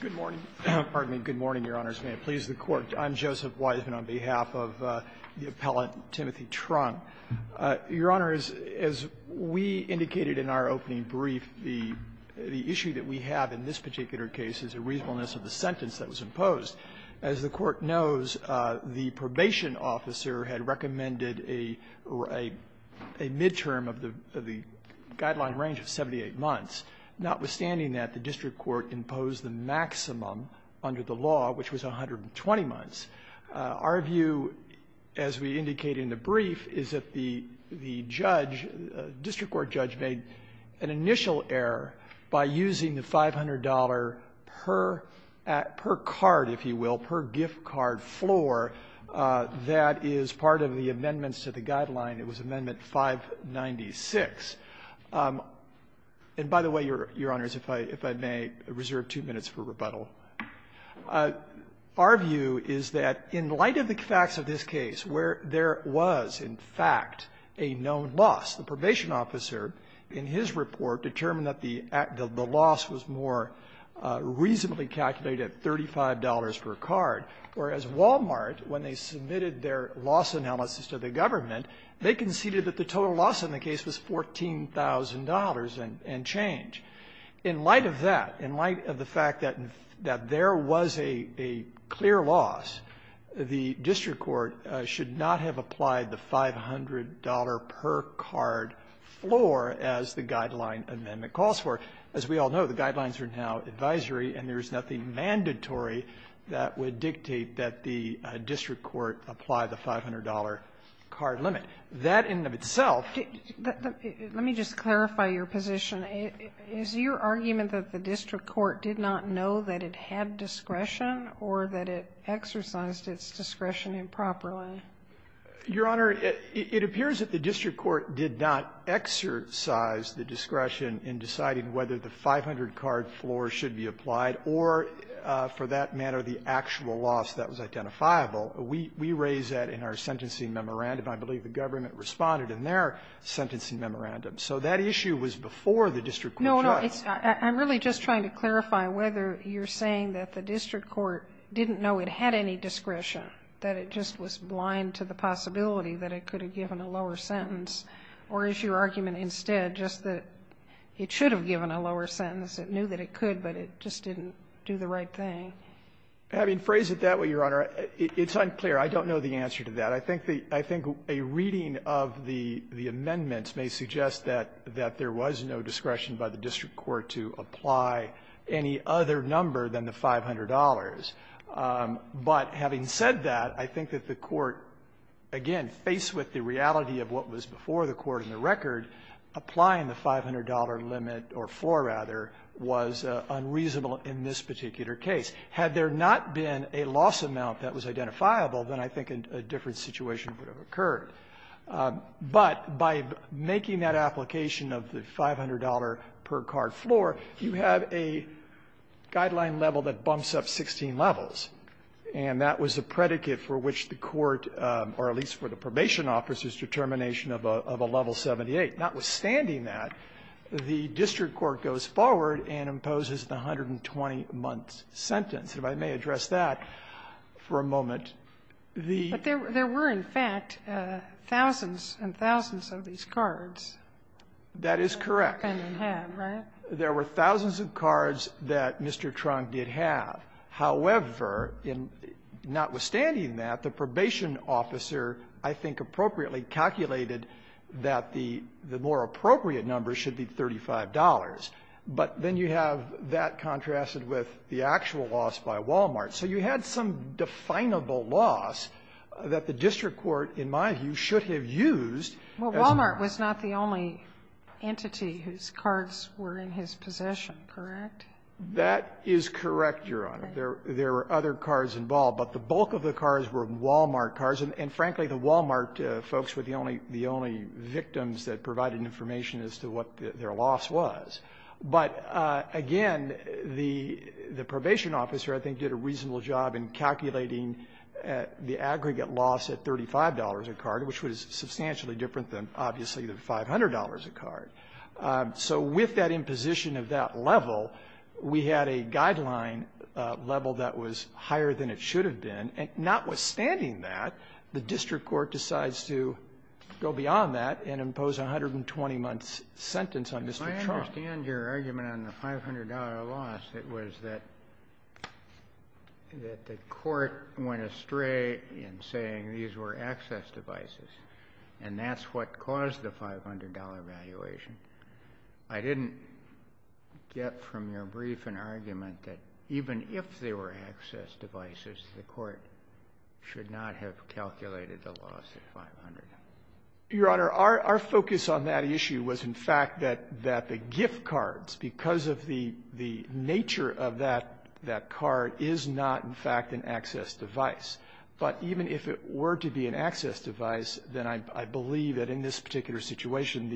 Good morning, Your Honors. May it please the Court. I'm Joseph Weisman on behalf of the appellant Timothy Truong. Your Honors, as we indicated in our opening brief, the issue that we have in this particular case is the reasonableness of the sentence that was imposed. As the Court knows, the probation officer had recommended a midterm of the guideline range of 78 months. Notwithstanding that, the district court imposed the maximum under the law, which was 120 months. Our view, as we indicate in the brief, is that the judge, the district court judge, made an initial error by using the $500 per card, if you will, per gift card floor that is part of the amendments to the guideline. It was Amendment 596. And by the way, Your Honors, if I may reserve two minutes for rebuttal, our view is that in light of the facts of this case, where there was, in fact, a known loss, the probation officer, in his report, determined that the loss was more reasonably calculated at $35 per card, whereas Wal-Mart, when they submitted their loss analysis to the In light of that, in light of the fact that there was a clear loss, the district court should not have applied the $500 per card floor as the Guideline Amendment calls for. As we all know, the Guidelines are now advisory, and there is nothing mandatory that would dictate that the district court apply the $500 card limit. That in and of itself --" Sotomayor, is your argument that the district court did not know that it had discretion or that it exercised its discretion improperly? Your Honor, it appears that the district court did not exercise the discretion in deciding whether the $500 card floor should be applied or, for that matter, the actual loss that was identifiable. We raise that in our sentencing memorandum. I believe the government responded in their sentencing memorandum. So that issue was before the district court judge. No, no. I'm really just trying to clarify whether you're saying that the district court didn't know it had any discretion, that it just was blind to the possibility that it could have given a lower sentence, or is your argument instead just that it should have given a lower sentence, it knew that it could, but it just didn't do the right thing? I mean, phrase it that way, Your Honor. It's unclear. I don't know the answer to that. I think the – I think a reading of the amendments may suggest that there was no discretion by the district court to apply any other number than the $500. But having said that, I think that the court, again, faced with the reality of what was before the court in the record, applying the $500 limit, or floor, rather, was unreasonable in this particular case. Had there not been a loss amount that was identifiable, then I think a different situation would have occurred. But by making that application of the $500 per card floor, you have a guideline level that bumps up 16 levels, and that was a predicate for which the court, or at least for the probation officer's determination of a level 78. Notwithstanding that, the district court goes forward and imposes the 120-month sentence. And I may address that for a moment. The ---- But there were, in fact, thousands and thousands of these cards. That is correct. And they have, right? There were thousands of cards that Mr. Trunk did have. However, in – notwithstanding that, the probation officer, I think appropriately, calculated that the more appropriate number should be $35. But then you have that contrasted with the actual loss by Walmart. So you had some definable loss that the district court, in my view, should have used as a mark. Well, Walmart was not the only entity whose cards were in his possession, correct? That is correct, Your Honor. There were other cards involved. But the bulk of the cards were Walmart cards. And, frankly, the Walmart folks were the only victims that provided information as to what their loss was. But, again, the probation officer, I think, did a reasonable job in calculating the aggregate loss at $35 a card, which was substantially different than, obviously, the $500 a card. So with that imposition of that level, we had a guideline level that was higher than it should have been. And notwithstanding that, the district court decides to go beyond that and impose a 120-month sentence on Mr. Trunk. Now, I understand your argument on the $500 loss. It was that the court went astray in saying these were access devices, and that's what caused the $500 valuation. I didn't get from your brief an argument that even if they were access devices, the court should not have calculated the loss at $500. Your Honor, our focus on that issue was, in fact, that the gift cards, because of the nature of that card, is not, in fact, an access device. But even if it were to be an access device, then I believe that in this particular situation,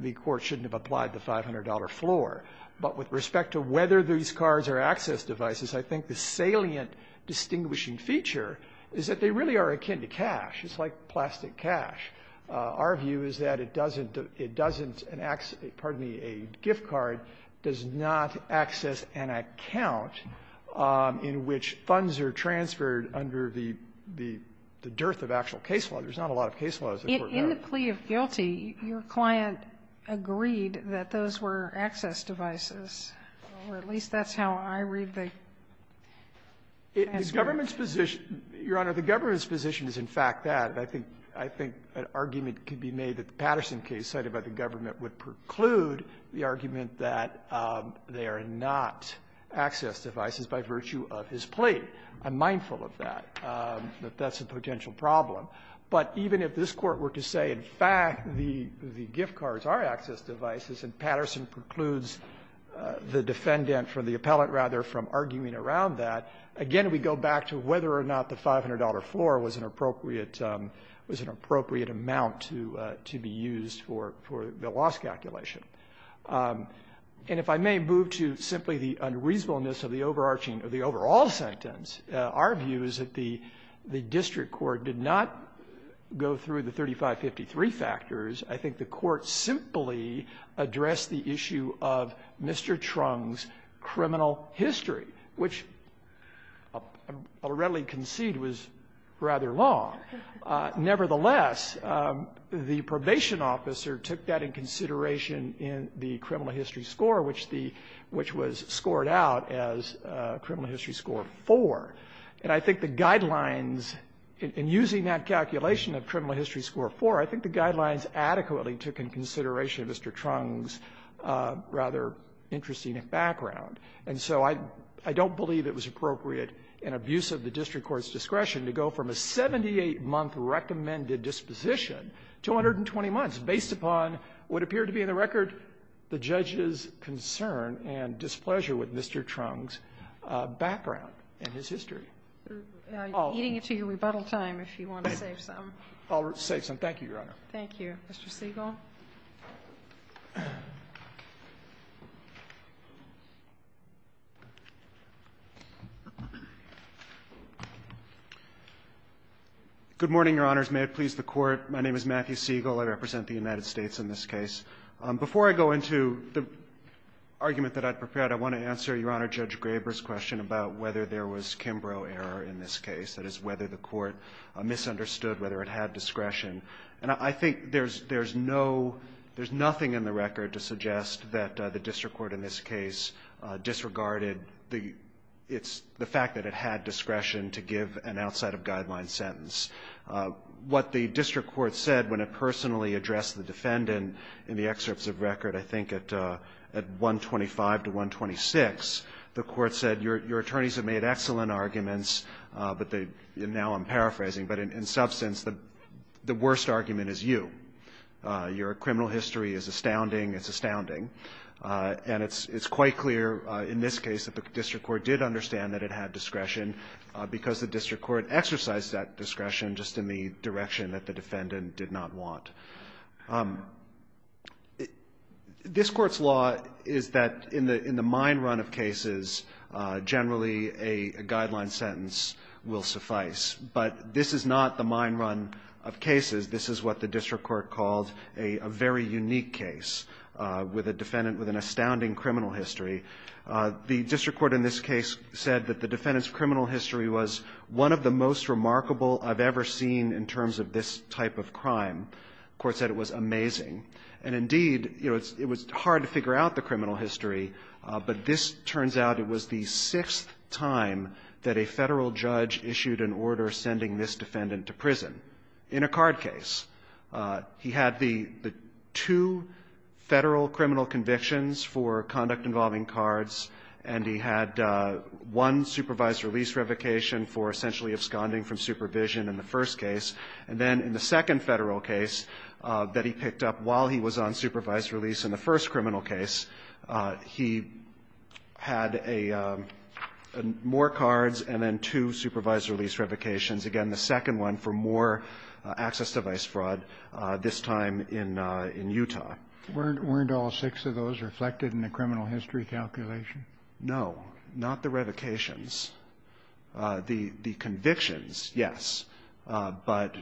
the court shouldn't have applied the $500 floor. But with respect to whether these cards are access devices, I think the salient distinguishing feature is that they really are akin to cash. It's like plastic cash. Our view is that it doesn't, it doesn't, an access, pardon me, a gift card does not access an account in which funds are transferred under the, the dearth of actual case law. There's not a lot of case laws that work that way. In the plea of guilty, your client agreed that those were access devices, or at least that's how I read the case. The government's position, your Honor, the government's position is, in fact, that. I think, I think an argument could be made that the Patterson case cited by the government would preclude the argument that they are not access devices by virtue of his plea. I'm mindful of that, that that's a potential problem. But even if this Court were to say, in fact, the, the gift cards are access devices, and Patterson precludes the defendant, or the appellate, rather, from arguing around that, again, we go back to whether or not the $500 floor was an appropriate, was an appropriate amount to, to be used for, for the loss calculation. And if I may move to simply the unreasonableness of the overarching, of the overall sentence, our view is that the, the district court did not go through the 3553 factors. I think the Court simply addressed the issue of Mr. Trung's criminal history, which, I'll readily concede, was rather long. Nevertheless, the probation officer took that in consideration in the criminal history score, which the, which was scored out as criminal history score 4. And I think the guidelines, in using that calculation of criminal history score 4, I think the guidelines adequately took in consideration Mr. Trung's rather interesting background. And so I, I don't believe it was appropriate in abuse of the district court's discretion to go from a 78-month recommended disposition to 120 months based upon what appeared to be in the record the judge's concern and displeasure with Mr. Trung's background and his history. All of them. Kagan. Kagan. Kagan. Kagan. Kagan. Kagan. Kagan. Kagan. Kagan. Kagan. Kagan. Kagan. Kagan. Kagan. Kagan. Kagan. Good morning, Your Honors. May it please the Court. My name is Matthew Siegel. I represent the United States in this case. Before I go into the argument that I prepared, I want to answer, Your Honor, Judge Graber's question about whether there was Kimbrough error in this case. That is, whether the Court misunderstood whether it had discretion. And I think there's, there's no, there's nothing in the record to suggest that the district court in this case disregarded the, it's, the fact that it had discretion to give an outside-of-guideline sentence. What the district court said when it personally addressed the defendant in the excerpts of record, I think at, at 125 to 126, the court said, your, your attorneys have made excellent arguments, but they, and now I'm paraphrasing, but in, in substance, the, the worst argument is you. Your criminal history is astounding. It's astounding. And it's, it's quite clear in this case that the district court did understand that it had discretion because the district court exercised that discretion just in the direction that the defendant did not want. This Court's law is that in the, in the mine run of cases, generally a, a guideline sentence will suffice. But this is not the mine run of cases. This is what the district court called a, a very unique case with a defendant with an astounding criminal history. The district court in this case said that the defendant's criminal history was one of the most remarkable I've ever seen in terms of this type of crime. The court said it was amazing. And indeed, you know, it's, it was hard to figure out the criminal history, but this turns out it was the sixth time that a Federal judge issued an order sending this defendant to prison in a card case. He had the, the two Federal criminal convictions for conduct involving cards, and he had one supervised release revocation for essentially absconding from supervision in the first case. And then in the second Federal case that he picked up while he was on supervised release in the first criminal case, he had a, a more cards and then two supervised release revocations. Again, the second one for more access device fraud, this time in, in Utah. Weren't, weren't all six of those reflected in the criminal history calculation? No. Not the revocations. The, the convictions, yes. But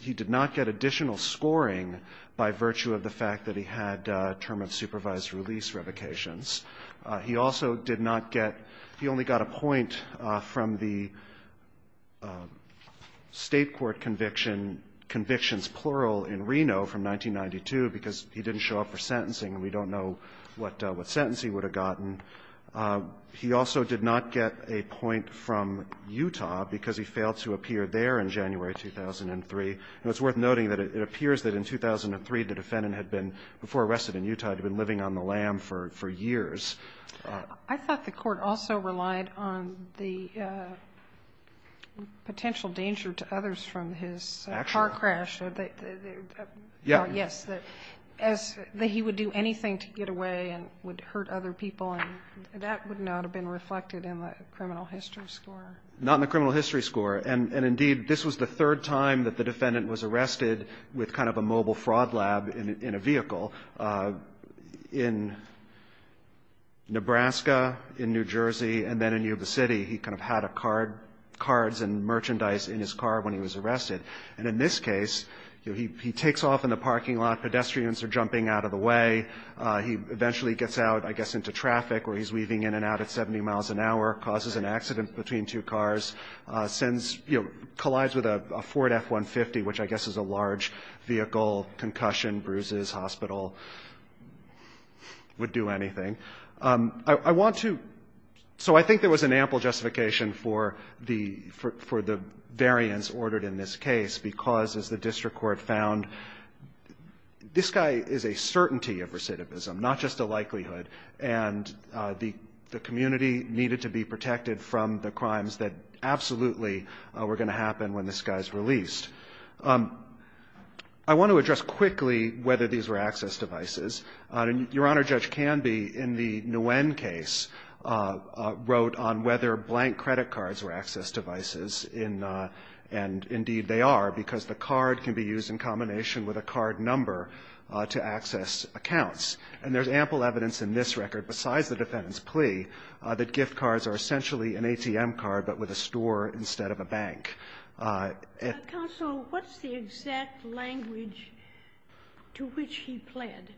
he did not get additional scoring by virtue of the fact that he had a term of supervised release revocations. He also did not get, he only got a point from the State court conviction, convictions plural in Reno from 1992, because he didn't show up for sentencing and we don't know what, what sentence he would have gotten. He also did not get a point from Utah because he failed to appear there in January 2003. And it's worth noting that it, it appears that in 2003, the defendant had been, before arrested in Utah, had been living on the lam for, for years. I thought the court also relied on the potential danger to others from his car crash. Yes. That as he would do anything to get away and would hurt other people and that would not have been reflected in the criminal history score. Not in the criminal history score. And, and indeed this was the third time that the defendant was arrested with kind of a vehicle in Nebraska, in New Jersey, and then in Yuba City. He kind of had a card, cards and merchandise in his car when he was arrested. And in this case, he takes off in the parking lot, pedestrians are jumping out of the way, he eventually gets out, I guess, into traffic where he's weaving in and out at 70 miles an hour, causes an accident between two cars, sends, collides with a Ford F-150, which I guess is a large vehicle, concussion, bruises, hospital. Would do anything. I, I want to, so I think there was an ample justification for the, for, for the variance ordered in this case, because as the district court found, this guy is a certainty of recidivism, not just a likelihood. And the, the community needed to be protected from the crimes that absolutely were going to happen when this guy's released. I want to address quickly whether these were access devices. Your Honor, Judge Canby, in the Nguyen case, wrote on whether blank credit cards were access devices in, and indeed they are, because the card can be used in combination with a card number to access accounts. And there's ample evidence in this record, besides the defendant's plea, that gift cards are essentially an ATM card, but with a store instead of a bank. Counsel, what's the exact language to which he pled?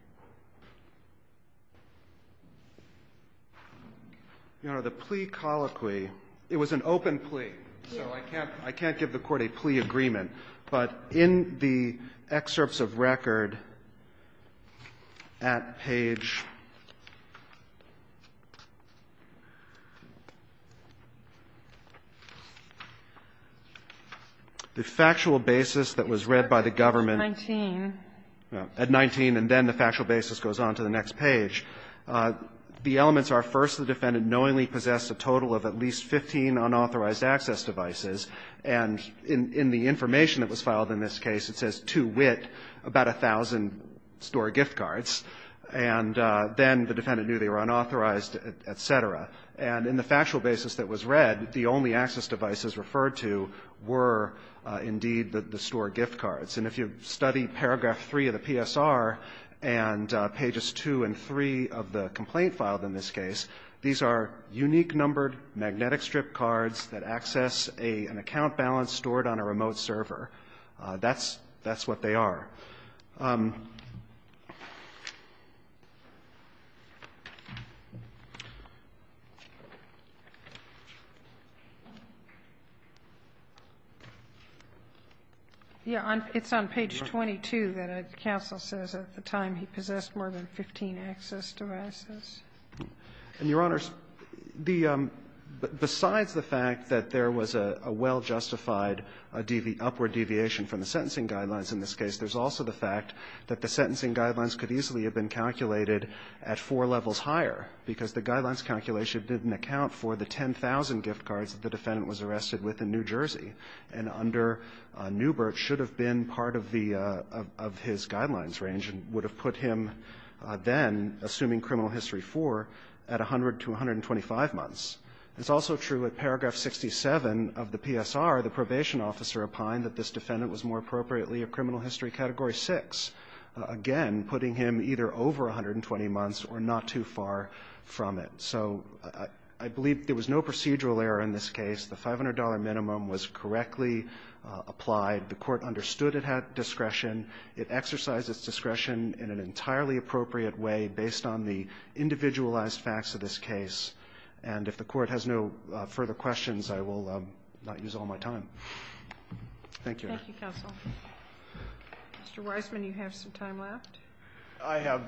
Your Honor, the plea colloquy, it was an open plea. So I can't, I can't give the court a plea agreement. But in the excerpts of record at page 19, the factual basis that was read by the government, at 19, and then the factual basis goes on to the next page, the elements are, first, the defendant knowingly possessed a total of at least 15 unauthorized access devices. And in the information that was filed in this case, it says, to wit, about a thousand store gift cards. And then the defendant knew they were unauthorized, et cetera. And in the factual basis that was read, the only access devices referred to were, indeed, the store gift cards. And if you study paragraph 3 of the PSR and pages 2 and 3 of the complaint filed in this case, these are unique numbered magnetic strip cards that access an account balance stored on a remote server. That's what they are. Yeah. It's on page 22 that counsel says at the time he possessed more than 15 access devices. And, Your Honors, the – besides the fact that there was a well-justified upward deviation from the sentencing guidelines in this case, there's also the fact that the sentencing guidelines could easily have been calculated at four levels higher, because the guidelines calculation didn't account for the 10,000 gift cards that the defendant was arrested with in New Jersey. And under Neubert should have been part of the – of his guidelines range and would have put him then, assuming criminal history 4, at 100 to 125 months. It's also true at paragraph 67 of the PSR, the probation officer opined that this defendant was more appropriately a criminal history category 6, again, putting him either over 120 months or not too far from it. So I believe there was no procedural error in this case. The $500 minimum was correctly applied. The court understood it had discretion. It exercised its discretion in an entirely appropriate way based on the individualized facts of this case. And if the court has no further questions, I will not use all my time. Thank you. Thank you, counsel. Mr. Weisman, you have some time left. I have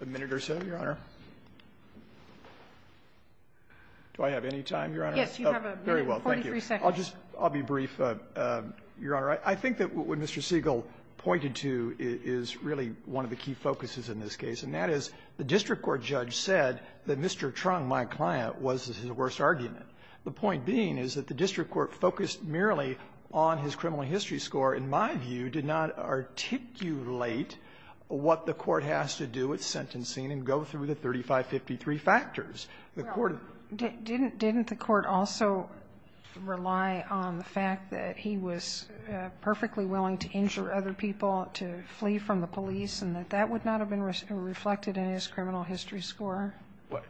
a minute or so, Your Honor. Do I have any time, Your Honor? Yes, you have a minute and 43 seconds. Oh, very well. Thank you. I'll just – I'll be brief, Your Honor. I think that what Mr. Siegel pointed to is really one of the key focuses in this case, and that is the district court judge said that Mr. Trung, my client, was his worst argument, the point being is that the district court focused merely on his criminal history score, in my view, did not articulate what the court has to do with the 3553 factors. The court – Well, didn't the court also rely on the fact that he was perfectly willing to injure other people, to flee from the police, and that that would not have been reflected in his criminal history score?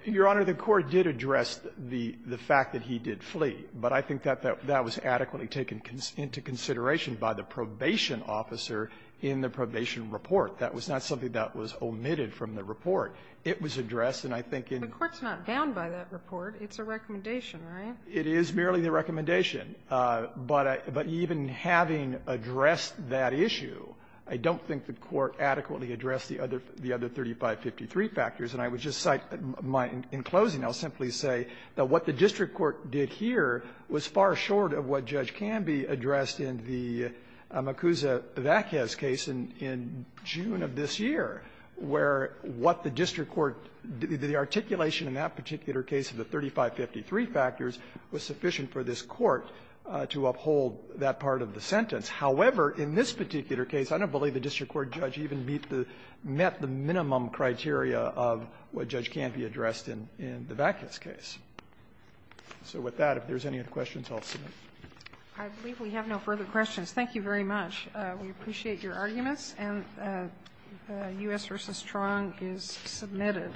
Your Honor, the court did address the fact that he did flee. But I think that that was adequately taken into consideration by the probation officer in the probation report. That was not something that was omitted from the report. It was addressed. And I think in the court's not bound by that report. It's a recommendation, right? It is merely the recommendation. But I – but even having addressed that issue, I don't think the court adequately addressed the other – the other 3553 factors. And I would just cite my – in closing, I'll simply say that what the district court did here was far short of what judge Canby addressed in the Makuza-Vaquez case in June of this year, where what the district court – the articulation in that particular case of the 3553 factors was sufficient for this court to uphold that part of the sentence. However, in this particular case, I don't believe the district court judge even met the minimum criteria of what Judge Canby addressed in the Vaquez case. So with that, if there's any other questions, I'll submit. I believe we have no further questions. Thank you very much. We appreciate your arguments. And U.S. v. Truong is submitted.